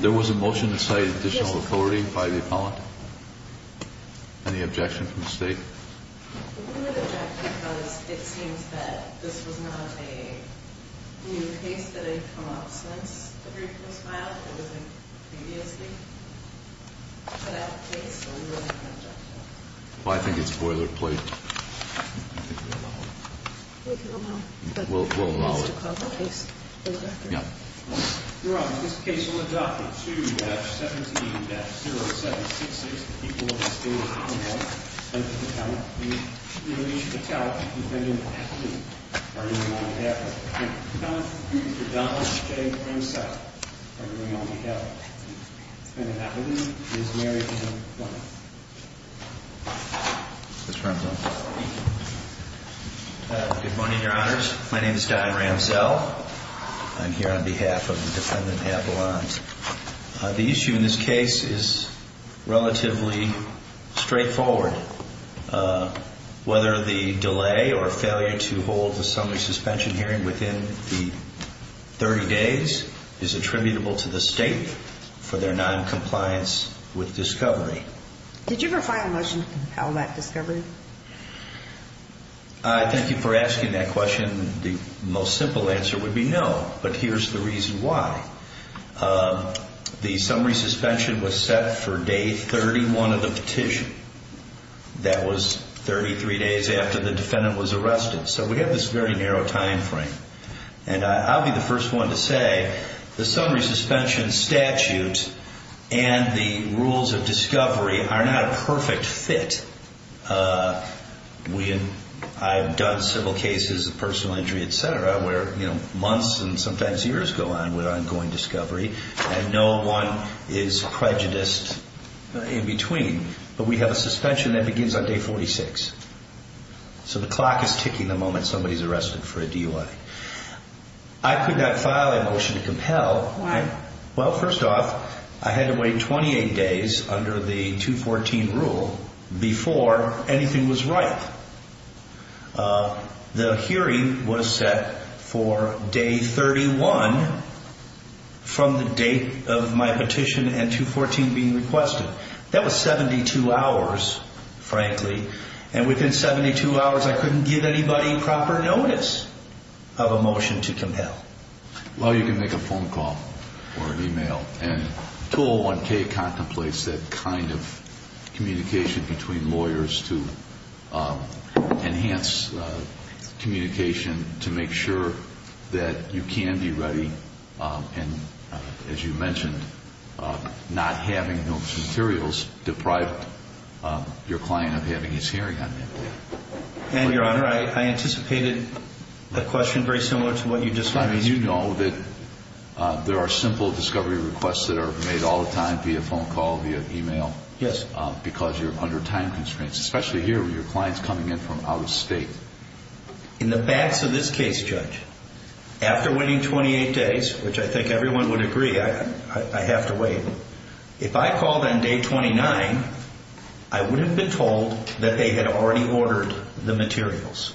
There was a motion to cite additional authority by the appellant. Any objection from the state? We would object because it seems that this was not a new case that had come up since the brief was filed. It was a previously put out case, so we wouldn't object to it. Well, I think it's boilerplate. I think we'll allow it. We can allow it. We'll allow it. It needs to call the case. Yeah. Your Honor, this case will adopt a 2-17-0766. The people of the state of Oklahoma, Senator Patel, please release Patel, defendant of Appleton. Pardon me, Your Honor. Appellant, Mr. Donald J. Ramsell. Pardon me, Your Honor. Defendant Appleton is married to a woman. Mr. Ramsell. Good morning, Your Honors. My name is Don Ramsell. I'm here on behalf of the defendant appellant. The issue in this case is relatively straightforward. Whether the delay or failure to hold the summary suspension hearing within the 30 days is attributable to the state for their noncompliance with discovery. Did you ever file a motion to compel that discovery? Thank you for asking that question. The most simple answer would be no. But here's the reason why. The summary suspension was set for day 31 of the petition. That was 33 days after the defendant was arrested. So we have this very narrow time frame. And I'll be the first one to say the summary suspension statute and the rules of discovery are not a perfect fit. I've done several cases of personal injury, et cetera, where months and sometimes years go on with ongoing discovery. And no one is prejudiced in between. But we have a suspension that begins on day 46. So the clock is ticking the moment somebody's arrested for a DUI. Why? Well, first off, I had to wait 28 days under the 214 rule before anything was right. The hearing was set for day 31 from the date of my petition and 214 being requested. That was 72 hours, frankly. And within 72 hours, I couldn't give anybody proper notice of a motion to compel. Well, you can make a phone call or an e-mail. And 201K contemplates that kind of communication between lawyers to enhance communication to make sure that you can be ready. And as you mentioned, not having those materials deprived your client of having his hearing on that day. And, Your Honor, I anticipated a question very similar to what you just asked. I mean, you know that there are simple discovery requests that are made all the time via phone call, via e-mail. Yes. Because you're under time constraints, especially here with your clients coming in from out of state. In the backs of this case, Judge, after waiting 28 days, which I think everyone would agree I have to wait, if I called on day 29, I would have been told that they had already ordered the materials.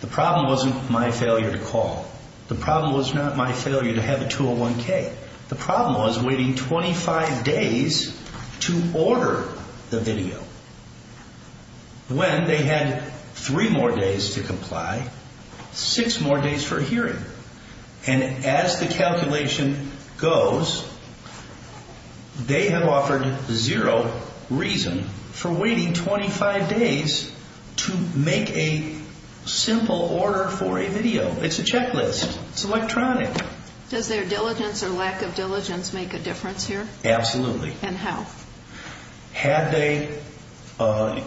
The problem wasn't my failure to call. The problem was not my failure to have a 201K. The problem was waiting 25 days to order the video when they had three more days to comply, six more days for a hearing. And as the calculation goes, they have offered zero reason for waiting 25 days to make a simple order for a video. It's a checklist. It's electronic. Does their diligence or lack of diligence make a difference here? Absolutely. And how? Had they,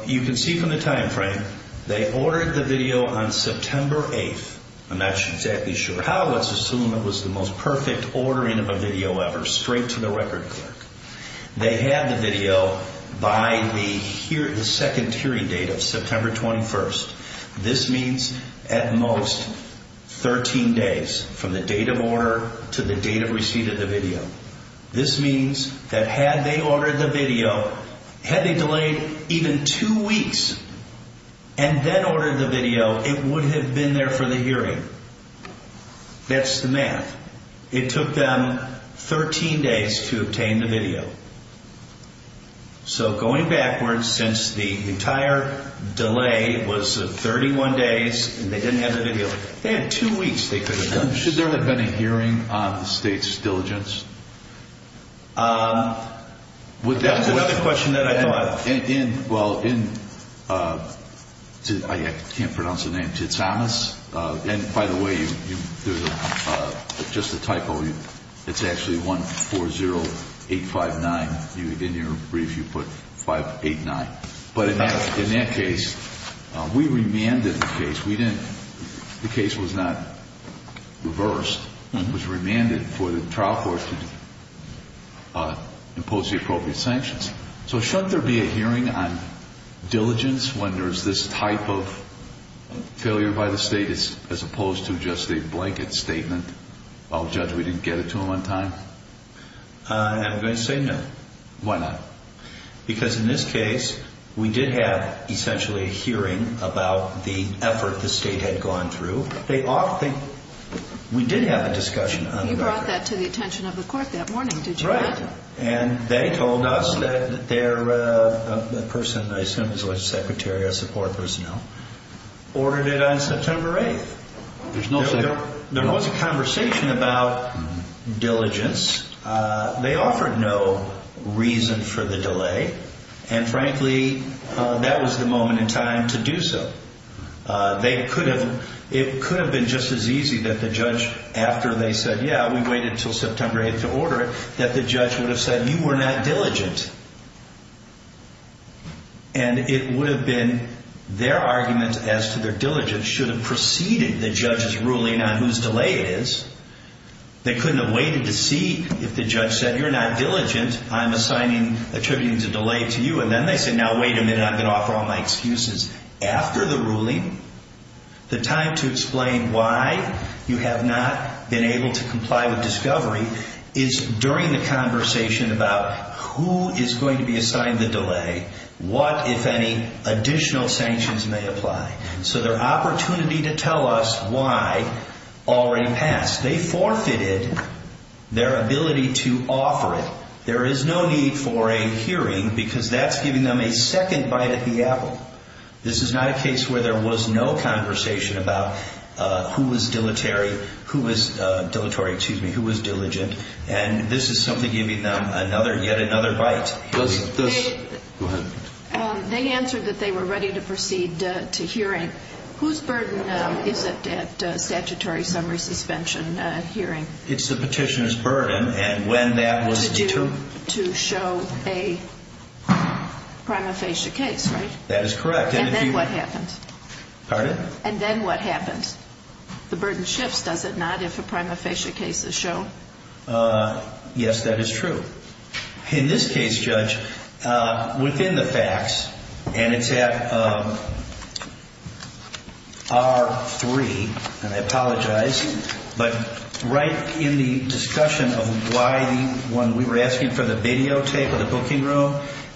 you can see from the time frame, they ordered the video on September 8th. I'm not exactly sure how. Let's assume it was the most perfect ordering of a video ever, straight to the record clerk. They had the video by the second hearing date of September 21st. This means at most 13 days from the date of order to the date of receipt of the video. This means that had they ordered the video, had they delayed even two weeks and then ordered the video, it would have been there for the hearing. That's the math. It took them 13 days to obtain the video. So going backwards, since the entire delay was 31 days and they didn't have the video, they had two weeks they could have done this. Should there have been a hearing on the state's diligence? That's another question that I know of. Well, in, I can't pronounce the name, Titsanas. And by the way, there's just a typo. It's actually 140859. In your brief, you put 589. But in that case, we remanded the case. The case was not reversed. It was remanded for the trial court to impose the appropriate sanctions. So shouldn't there be a hearing on diligence when there's this type of failure by the state as opposed to just a blanket statement, I'll judge we didn't get it to them on time? I'm going to say no. Why not? Because in this case, we did have essentially a hearing about the effort the state had gone through. We did have a discussion. You brought that to the attention of the court that morning, did you not? Right. And they told us that their person, I assume it was the secretary of support personnel, ordered it on September 8th. There was a conversation about diligence. They offered no reason for the delay. And frankly, that was the moment in time to do so. It could have been just as easy that the judge, after they said, yeah, we waited until September 8th to order it, that the judge would have said you were not diligent. And it would have been their argument as to their diligence should have preceded the judge's ruling on whose delay it is. They couldn't have waited to see if the judge said you're not diligent, I'm assigning attributing the delay to you. And then they said, now wait a minute, I'm going to offer all my excuses. After the ruling, the time to explain why you have not been able to comply with discovery is during the conversation about who is going to be assigned the delay, what, if any, additional sanctions may apply. So their opportunity to tell us why already passed. They forfeited their ability to offer it. There is no need for a hearing because that's giving them a second bite at the apple. This is not a case where there was no conversation about who was dilatory, who was diligent. And this is something giving them yet another bite. They answered that they were ready to proceed to hearing. Whose burden is it at statutory summary suspension hearing? It's the petitioner's burden, and when that was determined. To show a prima facie case, right? That is correct. And then what happens? Pardon? And then what happens? The burden shifts, does it not, if a prima facie case is shown? Yes, that is true. In this case, Judge, within the facts, and it's at R3, and I apologize, but right in the discussion of why the one we were asking for the videotape of the booking room,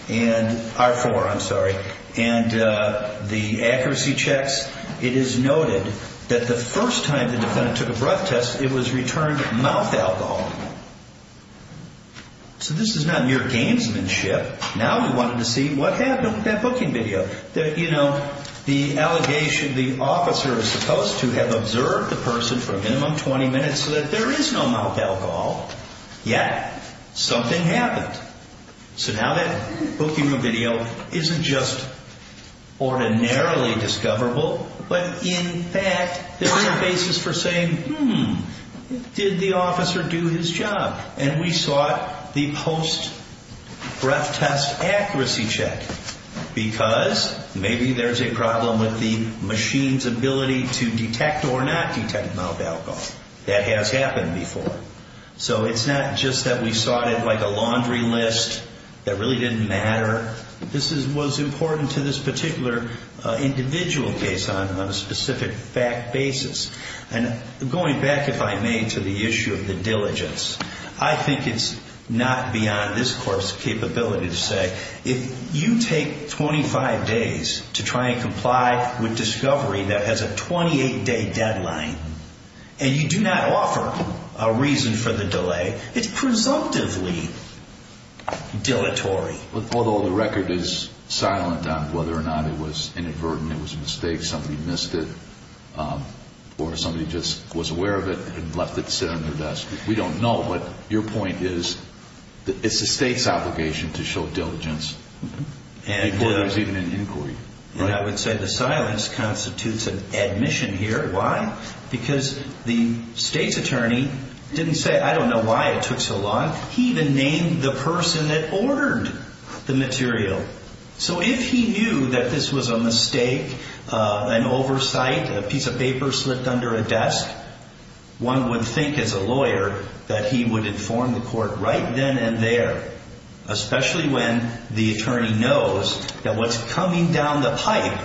and R4, I'm sorry, and the accuracy checks, it is noted that the first time the defendant took a breath test, it was returned mouth alcohol. So this is not mere gamesmanship. Now we wanted to see what happened with that booking video. That, you know, the allegation the officer is supposed to have observed the person for a minimum of 20 minutes so that there is no mouth alcohol, yet something happened. So now that booking room video isn't just ordinarily discoverable, but in fact there is a basis for saying, hmm, did the officer do his job? And we sought the post-breath test accuracy check because maybe there is a problem with the machine's ability to detect or not detect mouth alcohol. That has happened before. So it's not just that we sought it like a laundry list that really didn't matter. This was important to this particular individual case on a specific fact basis. And going back, if I may, to the issue of the diligence, I think it's not beyond this court's capability to say, if you take 25 days to try and comply with discovery that has a 28-day deadline, and you do not offer a reason for the delay, it's presumptively dilatory. Although the record is silent on whether or not it was inadvertent, it was a mistake, somebody missed it, or somebody just was aware of it and left it sit on their desk. We don't know, but your point is it's the state's obligation to show diligence before there's even an inquiry. And I would say the silence constitutes an admission here. Why? Because the state's attorney didn't say, I don't know why it took so long. He even named the person that ordered the material. So if he knew that this was a mistake, an oversight, a piece of paper slipped under a desk, one would think as a lawyer that he would inform the court right then and there, especially when the attorney knows that what's coming down the pipe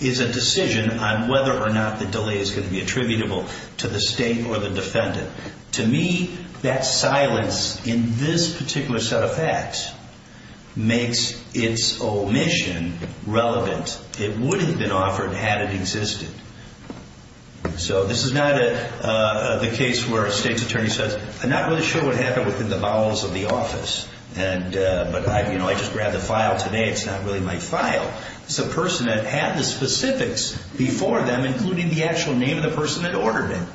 is a decision on whether or not the delay is going to be attributable to the state or the defendant. To me, that silence in this particular set of facts makes its omission relevant. It would have been offered had it existed. So this is not the case where a state's attorney says, I'm not really sure what happened within the bowels of the office, but I just grabbed the file today, it's not really my file. It's a person that had the specifics before them, including the actual name of the person that ordered it.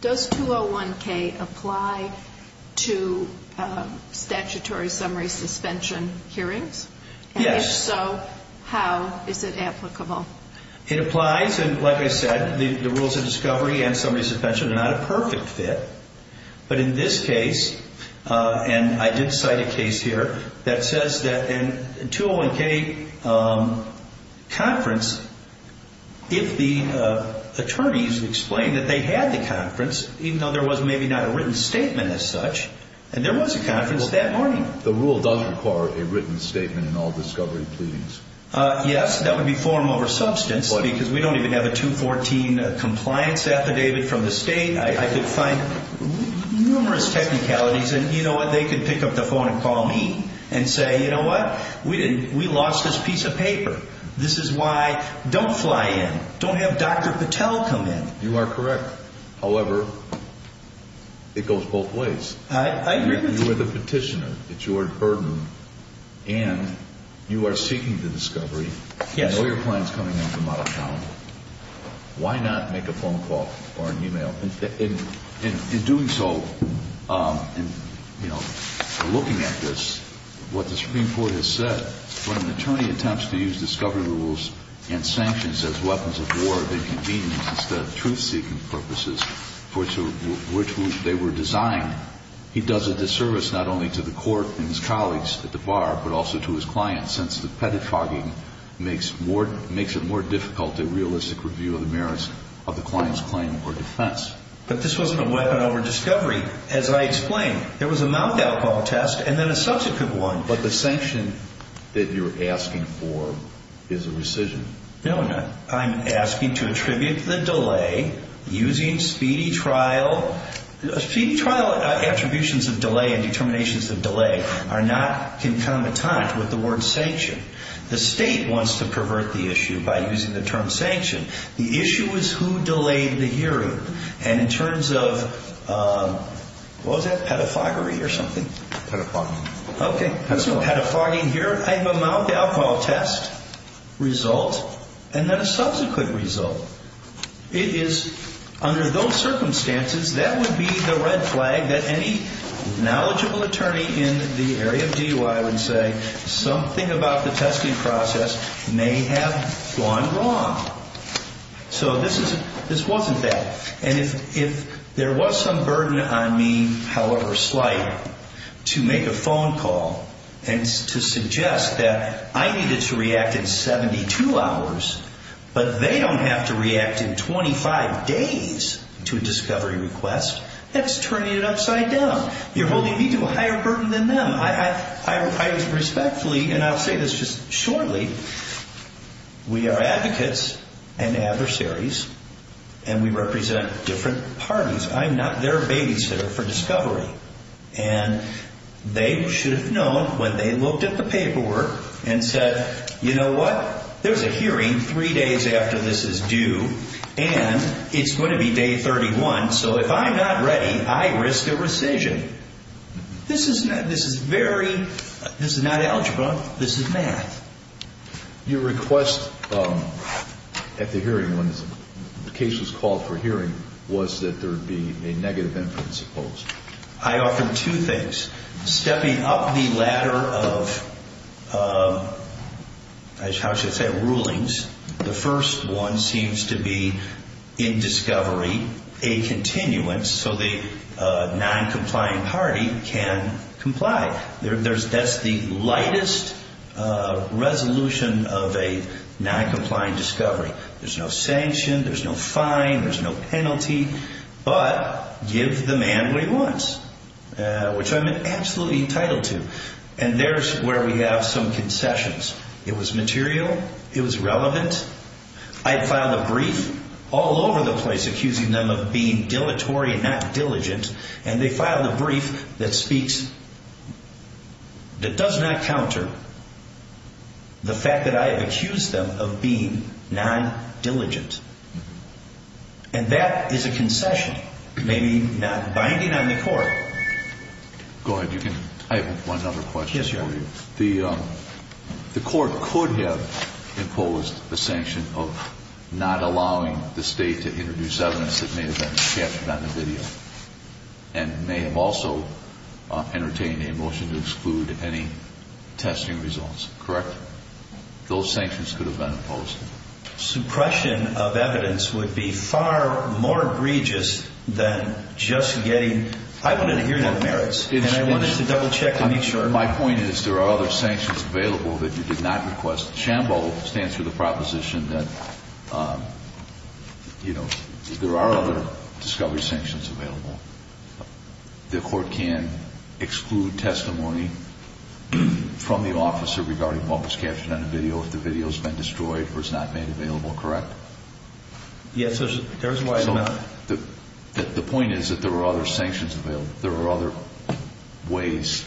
Does 201K apply to statutory summary suspension hearings? Yes. And if so, how is it applicable? It applies, and like I said, the rules of discovery and summary suspension are not a perfect fit. But in this case, and I did cite a case here that says that in a 201K conference, if the attorneys explain that they had the conference, even though there was maybe not a written statement as such, and there was a conference that morning. The rule does require a written statement in all discovery pleadings. Yes, that would be form over substance because we don't even have a 214 compliance affidavit from the state. I could find numerous technicalities, and you know what, they could pick up the phone and call me and say, you know what, we lost this piece of paper. This is why don't fly in. Don't have Dr. Patel come in. You are correct. However, it goes both ways. I agree with you. You are the petitioner. It's your burden, and you are seeking the discovery. Yes. I know your plan is coming in from out of town. Why not make a phone call or an e-mail? In doing so, you know, looking at this, what the Supreme Court has said, when an attorney attempts to use discovery rules and sanctions as weapons of war of inconvenience instead of truth-seeking purposes for which they were designed, he does a disservice not only to the court and his colleagues at the bar, but also to his clients since the pedophagy makes it more difficult to realistic review of the merits of the client's claim or defense. But this wasn't a weapon over discovery. As I explained, there was a mouth alcohol test and then a subsequent one. But the sanction that you're asking for is a rescission. No, I'm not. I'm asking to attribute the delay using speedy trial. Speedy trial attributions of delay and determinations of delay are not concomitant with the word sanction. The state wants to pervert the issue by using the term sanction. The issue is who delayed the hearing. And in terms of, what was that, pedophagy or something? Pedophagy. Okay. Pedophagy. Here I have a mouth alcohol test result and then a subsequent result. It is under those circumstances that would be the red flag that any knowledgeable attorney in the area of DUI would say something about the testing process may have gone wrong. So this wasn't that. And if there was some burden on me, however slight, to make a phone call and to suggest that I needed to react in 72 hours, but they don't have to react in 25 days to a discovery request, that's turning it upside down. You're holding me to a higher burden than them. I was respectfully, and I'll say this just shortly, we are advocates and adversaries and we represent different parties. I'm not their babysitter for discovery. And they should have known when they looked at the paperwork and said, you know what, there's a hearing three days after this is due and it's going to be day 31, so if I'm not ready, I risk a rescission. This is not algebra. This is math. Your request at the hearing when the case was called for hearing was that there would be a negative inference opposed. I offered two things. Stepping up the ladder of rulings, the first one seems to be in discovery a continuance so the noncompliant party can comply. That's the lightest resolution of a noncompliant discovery. There's no sanction, there's no fine, there's no penalty. But give the man what he wants, which I'm absolutely entitled to. And there's where we have some concessions. It was material, it was relevant. I filed a brief all over the place accusing them of being dilatory and not diligent. And they filed a brief that speaks, that does not counter the fact that I have accused them of being non-diligent. And that is a concession, maybe not binding on the court. Go ahead. I have one other question for you. Yes, sir. The court could have imposed a sanction of not allowing the state to introduce evidence that may have been captured on the video. And may have also entertained a motion to exclude any testing results, correct? Those sanctions could have been imposed. Suppression of evidence would be far more egregious than just getting, I wanted to hear the merits. And I wanted to double check to make sure. My point is there are other sanctions available that you did not request. SHAMBO stands for the proposition that, you know, there are other discovery sanctions available. The court can exclude testimony from the officer regarding what was captured on the video if the video has been destroyed or is not made available, correct? Yes, there is a wide amount. The point is that there are other sanctions available. There are other ways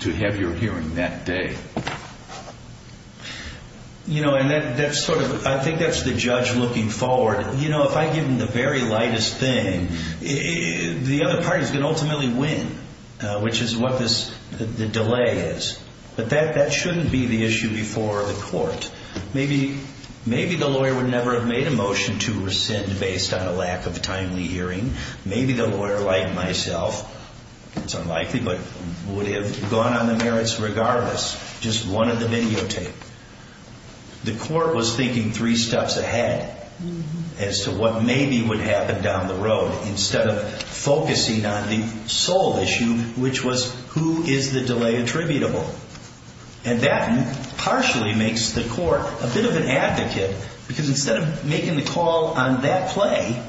to have your hearing that day. You know, and that's sort of, I think that's the judge looking forward. You know, if I give him the very lightest thing, the other party is going to ultimately win, which is what the delay is. But that shouldn't be the issue before the court. Maybe the lawyer would never have made a motion to rescind based on a lack of timely hearing. Maybe the lawyer, like myself, it's unlikely, but would have gone on the merits regardless, just wanted the videotape. The court was thinking three steps ahead as to what maybe would happen down the road, instead of focusing on the sole issue, which was who is the delay attributable. And that partially makes the court a bit of an advocate, because instead of making the call on that play,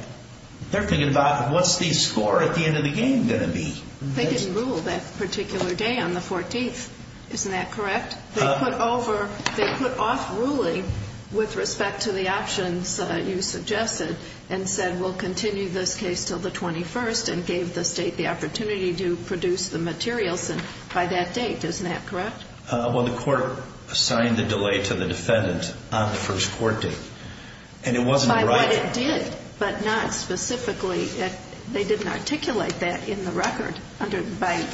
they're thinking about what's the score at the end of the game going to be. They didn't rule that particular day on the 14th. Isn't that correct? They put over, they put off ruling with respect to the options you suggested, and said we'll continue this case until the 21st, and gave the state the opportunity to produce the materials by that date. Isn't that correct? Well, the court assigned the delay to the defendant on the first court date. And it wasn't right. By what it did, but not specifically. They didn't articulate that in the record by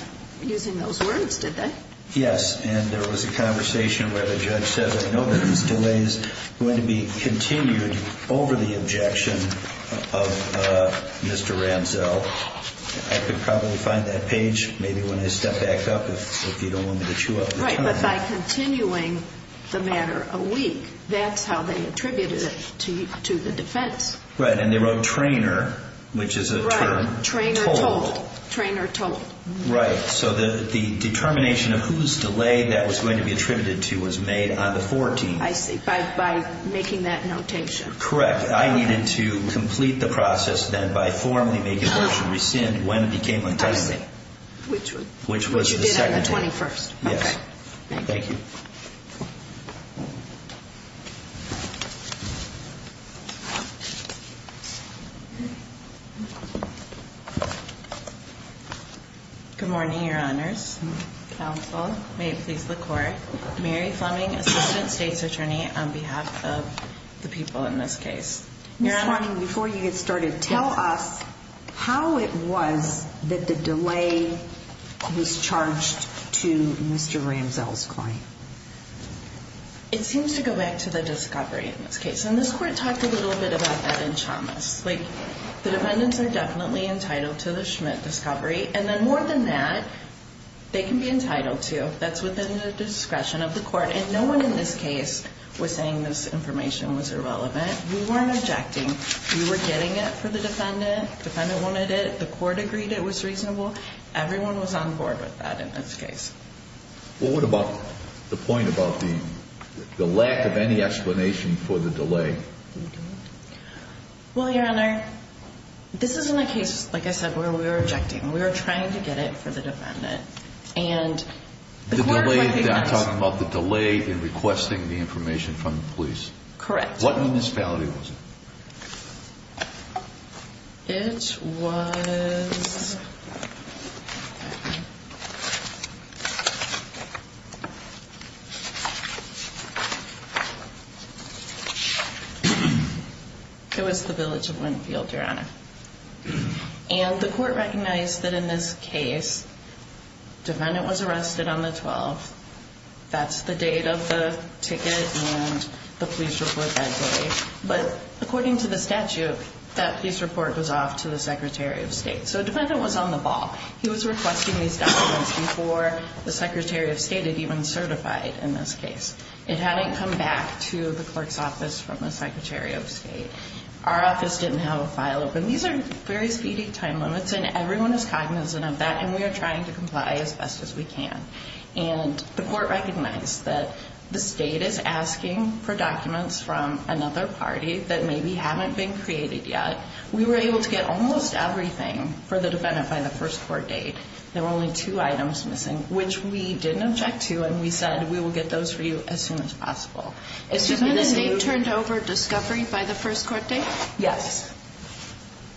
using those words, did they? Yes, and there was a conversation where the judge said, I know that this delay is going to be continued over the objection of Mr. Ramsell. I could probably find that page, maybe when I step back up, if you don't want me to chew up the time. Right, but by continuing the matter a week, that's how they attributed it to the defense. Right, and they wrote trainer, which is a term. Right, trainer told, trainer told. Right, so the determination of whose delay that was going to be attributed to was made on the 14th. I see, by making that notation. Correct. I needed to complete the process then by formally making the motion rescind when it became intended. I see. Which was the second time. Which did on the 21st. Yes. Okay, thank you. Thank you. Good morning, your honors. Counsel, may it please the court. Mary Fleming, assistant state's attorney on behalf of the people in this case. Your honor. Ms. Fleming, before you get started, tell us how it was that the delay was charged to Mr. Ramsell's client. It seems to go back to the discovery in this case, and this court talked a little bit about that in Chalmers. Like, the defendants are definitely entitled to the Schmidt discovery, and then more than that, they can be entitled to. That's within the discretion of the court, and no one in this case was saying this information was irrelevant. We weren't objecting. We were getting it for the defendant. The defendant wanted it. The court agreed it was reasonable. Everyone was on board with that in this case. Well, what about the point about the lack of any explanation for the delay? Well, your honor, this isn't a case, like I said, where we were objecting. We were trying to get it for the defendant, and the court agreed it was reasonable. The delay, you're talking about the delay in requesting the information from the police. Correct. What municipality was it? It was... It was the village of Winfield, your honor. And the court recognized that in this case, defendant was arrested on the 12th. That's the date of the ticket and the police report that day. But according to the statute, that police report was off to the secretary of state. So defendant was on the ball. He was requesting these documents before the secretary of state had even certified in this case. It hadn't come back to the clerk's office from the secretary of state. Our office didn't have a file open. These are very speedy time limits, and everyone is cognizant of that, and we are trying to comply as best as we can. And the court recognized that the state is asking for documents from another party that maybe haven't been created yet. We were able to get almost everything for the defendant by the first court date. There were only two items missing, which we didn't object to, and we said we will get those for you as soon as possible. Excuse me, the state turned over discovery by the first court date? Yes.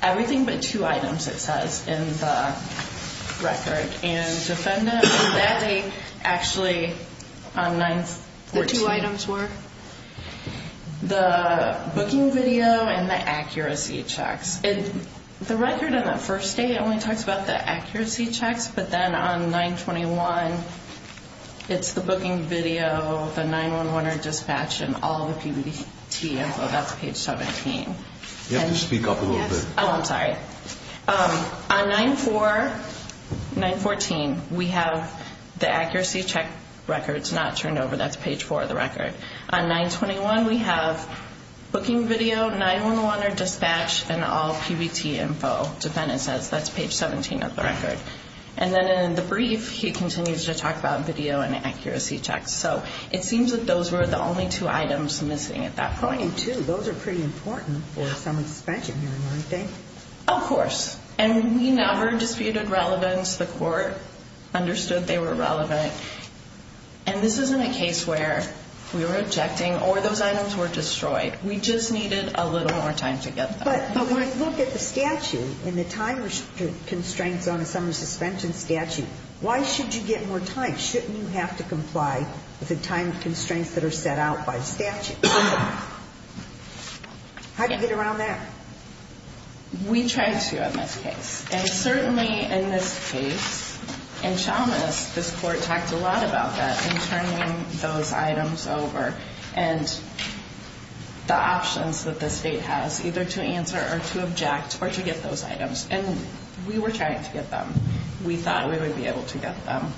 Everything but two items, it says in the record. And defendant on that date actually on 9-14. The two items were? The booking video and the accuracy checks. The record on that first date only talks about the accuracy checks, but then on 9-21, it's the booking video, the 9-1-1 dispatch, and all the PBT info. That's page 17. You have to speak up a little bit. Oh, I'm sorry. On 9-4, 9-14, we have the accuracy check records not turned over. That's page 4 of the record. On 9-21, we have booking video, 9-1-1 or dispatch, and all PBT info. Defendant says that's page 17 of the record. And then in the brief, he continues to talk about video and accuracy checks. So it seems that those were the only two items missing at that point. Pointing to, those are pretty important for a summary suspension hearing, aren't they? Of course. And we never disputed relevance. The court understood they were relevant. And this isn't a case where we were objecting or those items were destroyed. We just needed a little more time to get them. But when I look at the statute and the time constraints on a summary suspension statute, why should you get more time? Why shouldn't you have to comply with the time constraints that are set out by statute? How do you get around that? We tried to in this case. And certainly in this case, in Chalmers, this court talked a lot about that and turning those items over and the options that the state has either to answer or to object or to get those items. And we were trying to get them. We thought we would be able to get them.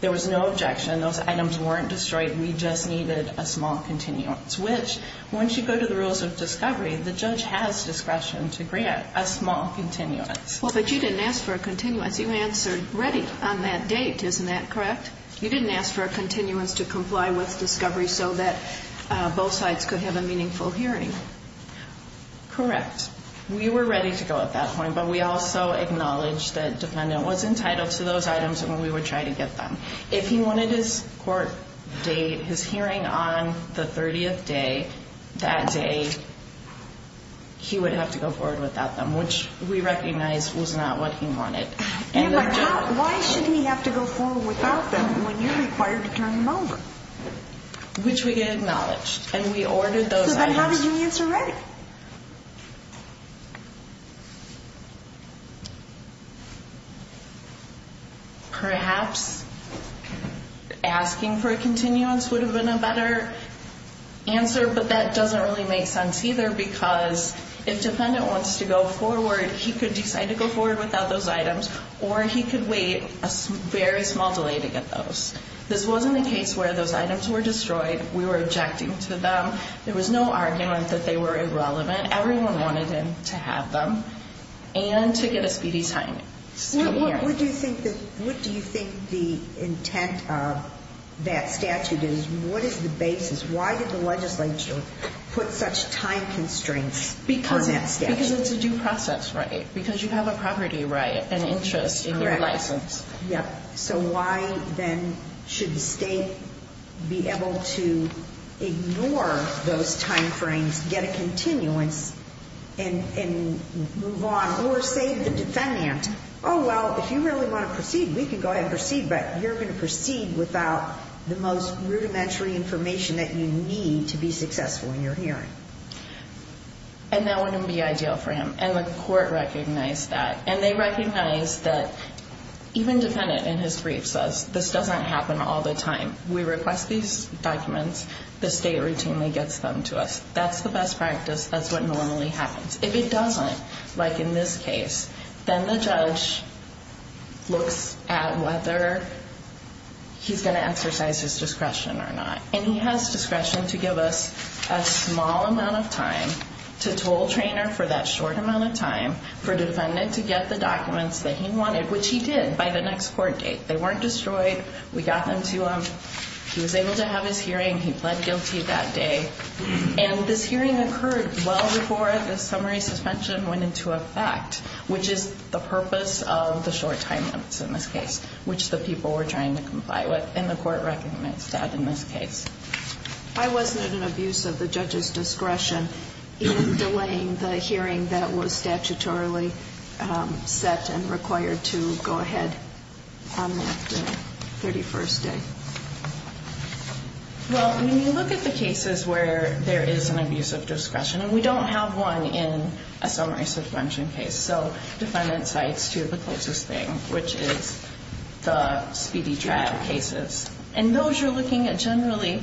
There was no objection. Those items weren't destroyed. We just needed a small continuance, which once you go to the rules of discovery, the judge has discretion to grant a small continuance. Well, but you didn't ask for a continuance. You answered ready on that date. Isn't that correct? You didn't ask for a continuance to comply with discovery so that both sides could have a meaningful hearing. Correct. We were ready to go at that point. But we also acknowledged that defendant was entitled to those items when we were trying to get them. If he wanted his court date, his hearing on the 30th day, that day, he would have to go forward without them, which we recognized was not what he wanted. Why should he have to go forward without them when you're required to turn them over? Which we acknowledged. And we ordered those items. How did you answer ready? Perhaps asking for a continuance would have been a better answer, but that doesn't really make sense either because if defendant wants to go forward, he could decide to go forward without those items or he could wait a very small delay to get those. This wasn't the case where those items were destroyed. We were objecting to them. There was no argument that they were irrelevant. Everyone wanted him to have them and to get a speedy signing. What do you think the intent of that statute is? What is the basis? Why did the legislature put such time constraints on that statute? Because it's a due process right. Correct. Yep. So why then should the state be able to ignore those time frames, get a continuance, and move on or save the defendant? Oh, well, if you really want to proceed, we can go ahead and proceed, but you're going to proceed without the most rudimentary information that you need to be successful in your hearing. And that wouldn't be ideal for him. And the court recognized that. And they recognized that even defendant in his brief says, this doesn't happen all the time. We request these documents. The state routinely gets them to us. That's the best practice. That's what normally happens. If it doesn't, like in this case, then the judge looks at whether he's going to exercise his discretion or not. And he has discretion to give us a small amount of time, to toll trainer for that short amount of time, for defendant to get the documents that he wanted, which he did by the next court date. They weren't destroyed. We got them to him. He was able to have his hearing. He pled guilty that day. And this hearing occurred well before the summary suspension went into effect, which is the purpose of the short time limits in this case, which the people were trying to comply with. And the court recognized that in this case. I wasn't at an abuse of the judge's discretion in delaying the hearing that was statutorily set and required to go ahead on that 31st day. Well, when you look at the cases where there is an abuse of discretion, and we don't have one in a summary suspension case, so defendant cites two of the closest things, which is the speedy trial cases. And those you're looking at generally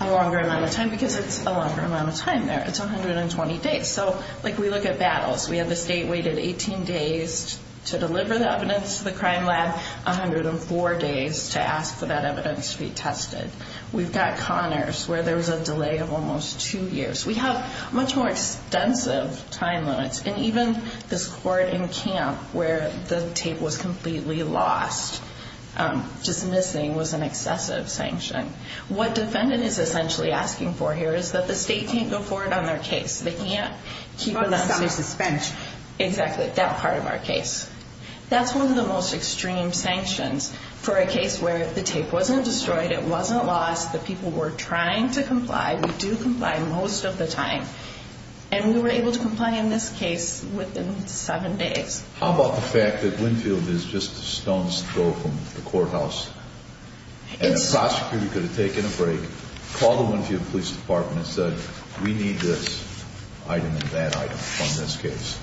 a longer amount of time because it's a longer amount of time there. It's 120 days. So, like, we look at battles. We have the state waited 18 days to deliver the evidence to the crime lab, 104 days to ask for that evidence to be tested. We've got Connors where there was a delay of almost two years. We have much more extensive time limits. And even this court in Camp where the tape was completely lost, just missing, was an excessive sanction. What defendant is essentially asking for here is that the state can't go forward on their case. They can't keep it under suspension. Exactly, that part of our case. That's one of the most extreme sanctions for a case where the tape wasn't destroyed, it wasn't lost, the people were trying to comply. We do comply most of the time. And we were able to comply in this case within seven days. How about the fact that Winfield is just a stone's throw from the courthouse and the prosecutor could have taken a break, called the Winfield Police Department and said, we need this item and that item on this case.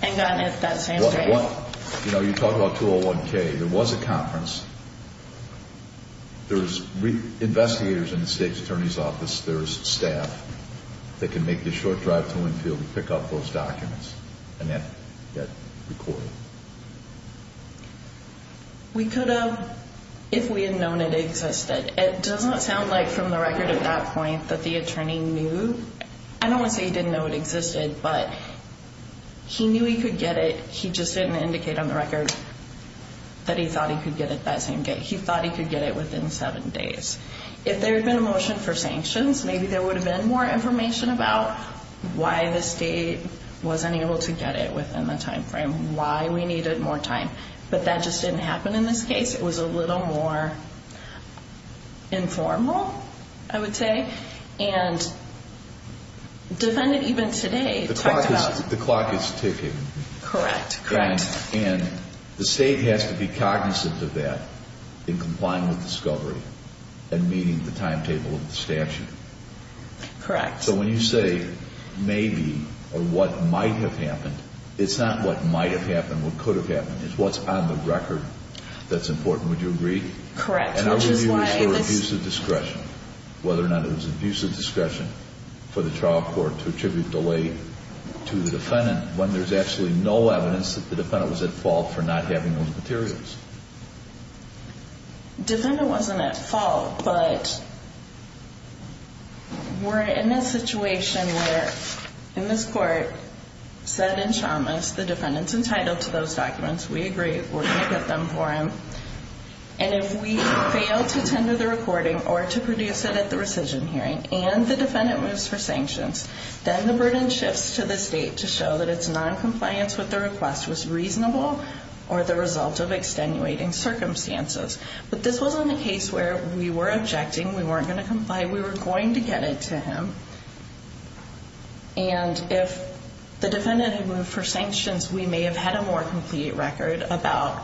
Hang on, is that the same thing? You know, you talk about 201K. There was a conference. There's investigators in the state's attorney's office. There's staff that can make the short drive to Winfield where we pick up those documents and then get recorded. We could have if we had known it existed. It doesn't sound like from the record at that point that the attorney knew. I don't want to say he didn't know it existed, but he knew he could get it. He just didn't indicate on the record that he thought he could get it that same day. He thought he could get it within seven days. If there had been a motion for sanctions, maybe there would have been more information about why the state wasn't able to get it within the time frame, why we needed more time. But that just didn't happen in this case. It was a little more informal, I would say. And the defendant even today talked about it. The clock is ticking. Correct, correct. And the state has to be cognizant of that in complying with discovery and meeting the timetable of the statute. Correct. So when you say maybe or what might have happened, it's not what might have happened, what could have happened. It's what's on the record that's important. Would you agree? Correct. And the review is the abuse of discretion, whether or not it was abuse of discretion for the trial court to attribute delay to the defendant when there's actually no evidence that the defendant was at fault for not having those materials. Defendant wasn't at fault, but we're in a situation where, in this court, said in Chalmers, the defendant's entitled to those documents. We agree we're going to get them for him. And if we fail to tender the recording or to produce it at the rescission hearing and the defendant moves for sanctions, then the burden shifts to the state to show that its noncompliance with the request was reasonable or the result of extenuating circumstances. But this wasn't a case where we were objecting, we weren't going to comply, we were going to get it to him. And if the defendant had moved for sanctions, we may have had a more complete record about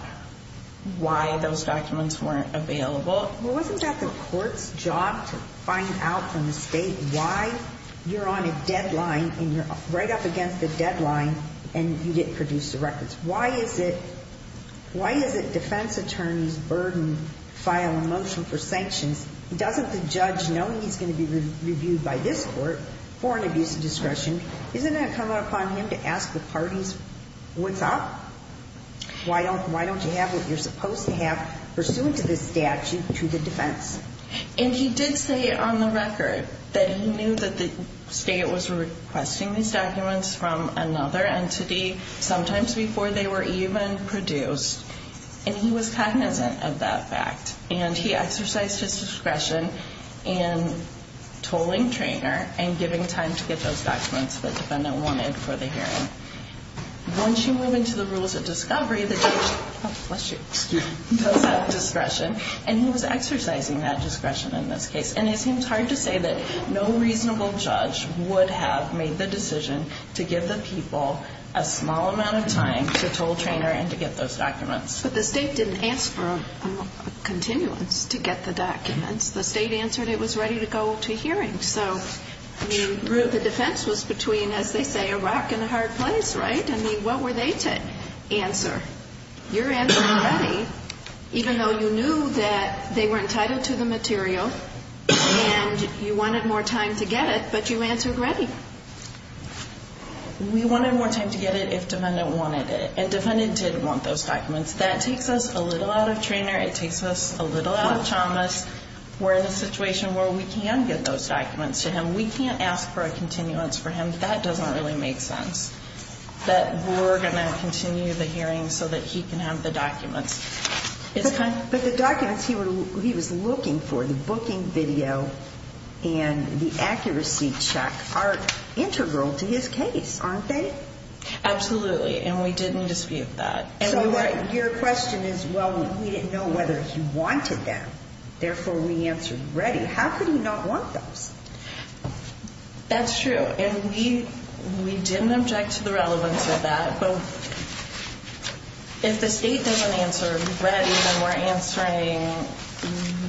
why those documents weren't available. Well, wasn't that the court's job to find out from the state why you're on a deadline and you're right up against the deadline and you didn't produce the records? Why is it defense attorneys' burden to file a motion for sanctions? Doesn't the judge know he's going to be reviewed by this court for an abuse of discretion? Isn't it going to come upon him to ask the parties, what's up? Why don't you have what you're supposed to have pursuant to this statute to the defense? And he did say on the record that he knew that the state was requesting these documents from another entity, sometimes before they were even produced, and he was cognizant of that fact. And he exercised his discretion in tolling Treanor and giving time to get those documents that the defendant wanted for the hearing. Once you move into the rules of discovery, the judge does have discretion, and he was exercising that discretion in this case. And it seems hard to say that no reasonable judge would have made the decision to give the people a small amount of time to toll Treanor and to get those documents. But the state didn't ask for a continuance to get the documents. The state answered it was ready to go to hearings. So the defense was between, as they say, a rock and a hard place, right? I mean, what were they to answer? You're answering ready, even though you knew that they were entitled to the material and you wanted more time to get it, but you answered ready. We wanted more time to get it if defendant wanted it, and defendant did want those documents. That takes us a little out of Treanor. It takes us a little out of Chalmers. We're in a situation where we can get those documents to him. We can't ask for a continuance for him. That doesn't really make sense, that we're going to continue the hearing so that he can have the documents. But the documents he was looking for, the booking video and the accuracy check are integral to his case, aren't they? Absolutely, and we didn't dispute that. So your question is, well, we didn't know whether he wanted them, therefore we answered ready. How could he not want those? That's true, and we didn't object to the relevance of that. But if the state doesn't answer ready, then we're answering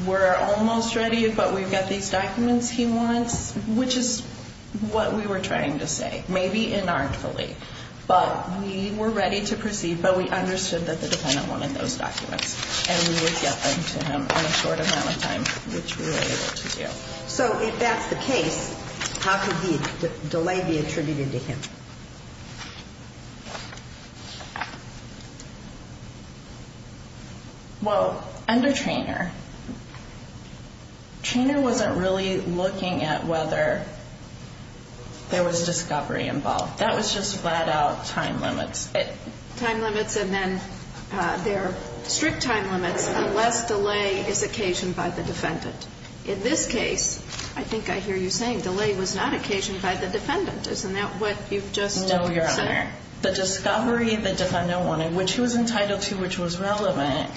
we're almost ready, but we've got these documents he wants, which is what we were trying to say, maybe inartfully. But we were ready to proceed, but we understood that the defendant wanted those documents, and we would get them to him in a short amount of time, which we were able to do. So if that's the case, how could the delay be attributed to him? Well, under Treanor, Treanor wasn't really looking at whether there was discovery involved. That was just flat-out time limits. Time limits, and then there are strict time limits unless delay is occasioned by the defendant. In this case, I think I hear you saying delay was not occasioned by the defendant. Isn't that what you've just said? No, Your Honor. The discovery the defendant wanted, which he was entitled to, which was relevant,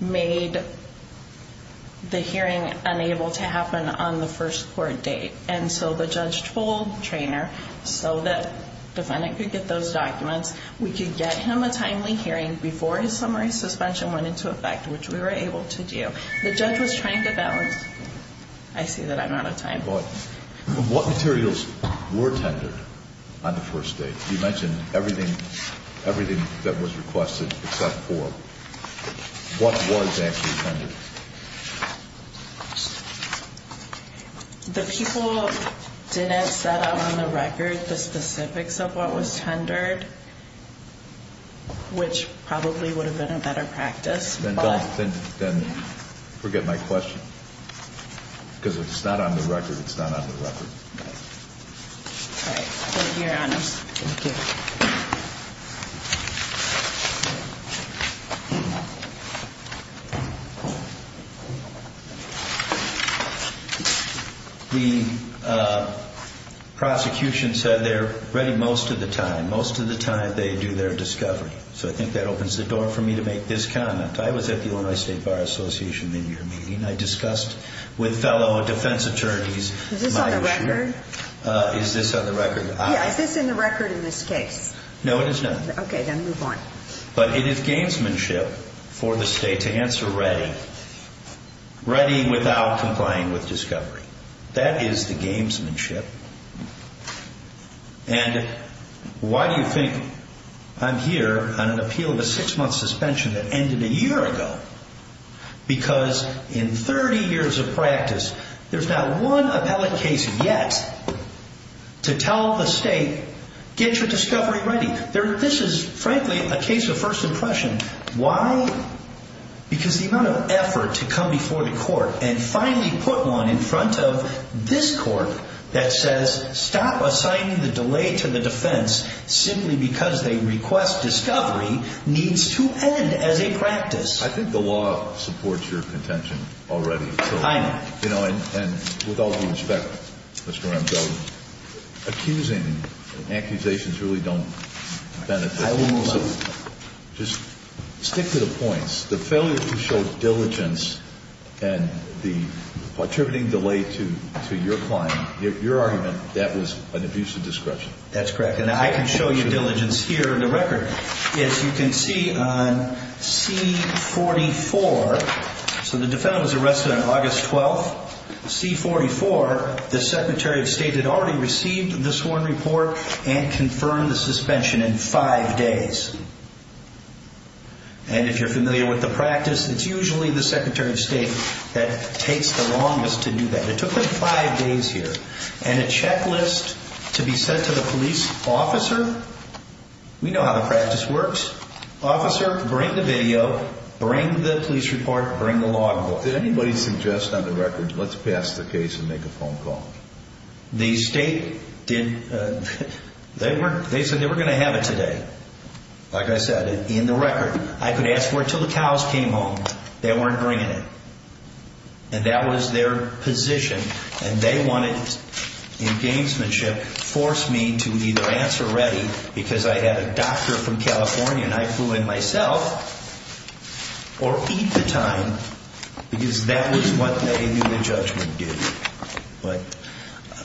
made the hearing unable to happen on the first court date. And so the judge told Treanor so that the defendant could get those documents, we could get him a timely hearing before his summary suspension went into effect, which we were able to do. The judge was trying to balance. I see that I'm out of time. But what materials were tendered on the first date? You mentioned everything that was requested except for what was actually tendered. The people didn't set out on the record the specifics of what was tendered, which probably would have been a better practice. Then forget my question. Because if it's not on the record, it's not on the record. All right. Thank you, Your Honor. Thank you. The prosecution said they're ready most of the time. Most of the time they do their discovery. So I think that opens the door for me to make this comment. I was at the Illinois State Bar Association in your meeting. I discussed with fellow defense attorneys Is this on the record? Is this on the record? Yeah. Is this on the record in this case? No, it is not. Okay. Then move on. But it is gamesmanship for the state to answer ready, ready without complying with discovery. That is the gamesmanship. And why do you think I'm here on an appeal of a six-month suspension that ended a year ago? Because in 30 years of practice, there's not one appellate case yet to tell the state get your discovery ready. This is frankly a case of first impression. Why? Because the amount of effort to come before the court and finally put one in front of this court that says stop assigning the delay to the defense simply because they request discovery needs to end as a practice. I think the law supports your contention already. I know. And with all due respect, Mr. Ramchow, accusing and accusations really don't benefit. I will move on. Just stick to the points. The failure to show diligence and the contributing delay to your client, your argument, that was an abuse of discretion. That's correct. And I can show you diligence here in the record. As you can see on C44, so the defendant was arrested on August 12th. C44, the Secretary of State had already received the sworn report and confirmed the suspension in five days. And if you're familiar with the practice, it's usually the Secretary of State that takes the longest to do that. It took them five days here. And a checklist to be sent to the police officer? We know how the practice works. Officer, bring the video. Bring the police report. Bring the law. Did anybody suggest on the record, let's pass the case and make a phone call? The State did. They said they were going to have it today. Like I said, in the record. I could ask for it until the cows came home. They weren't bringing it. And that was their position. And they wanted, in gamesmanship, force me to either answer ready, because I had a doctor from California, and I flew in myself, or eat the time, because that was what they knew the judgment did. But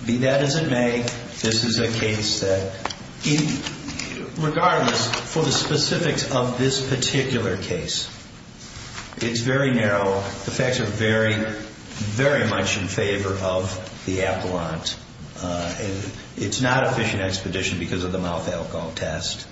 be that as it may, this is a case that, regardless for the specifics of this particular case, it's very narrow. The facts are very, very much in favor of the appellant. It's not a fishing expedition because of the mouth alcohol test.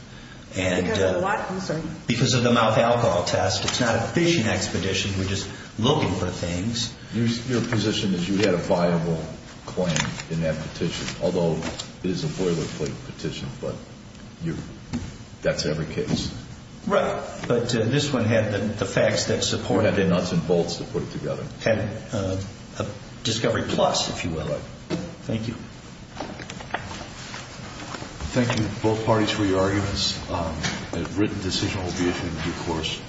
Because of the mouth alcohol test. It's not a fishing expedition. We're just looking for things. Your position is you had a viable claim in that petition, although it is a boilerplate petition, but that's every case. Right. But this one had the facts that supported it. You had the nuts and bolts to put it together. Had a discovery plus, if you will. Right. Thank you. Thank you, both parties, for your arguments. A written decision will be issued in due course.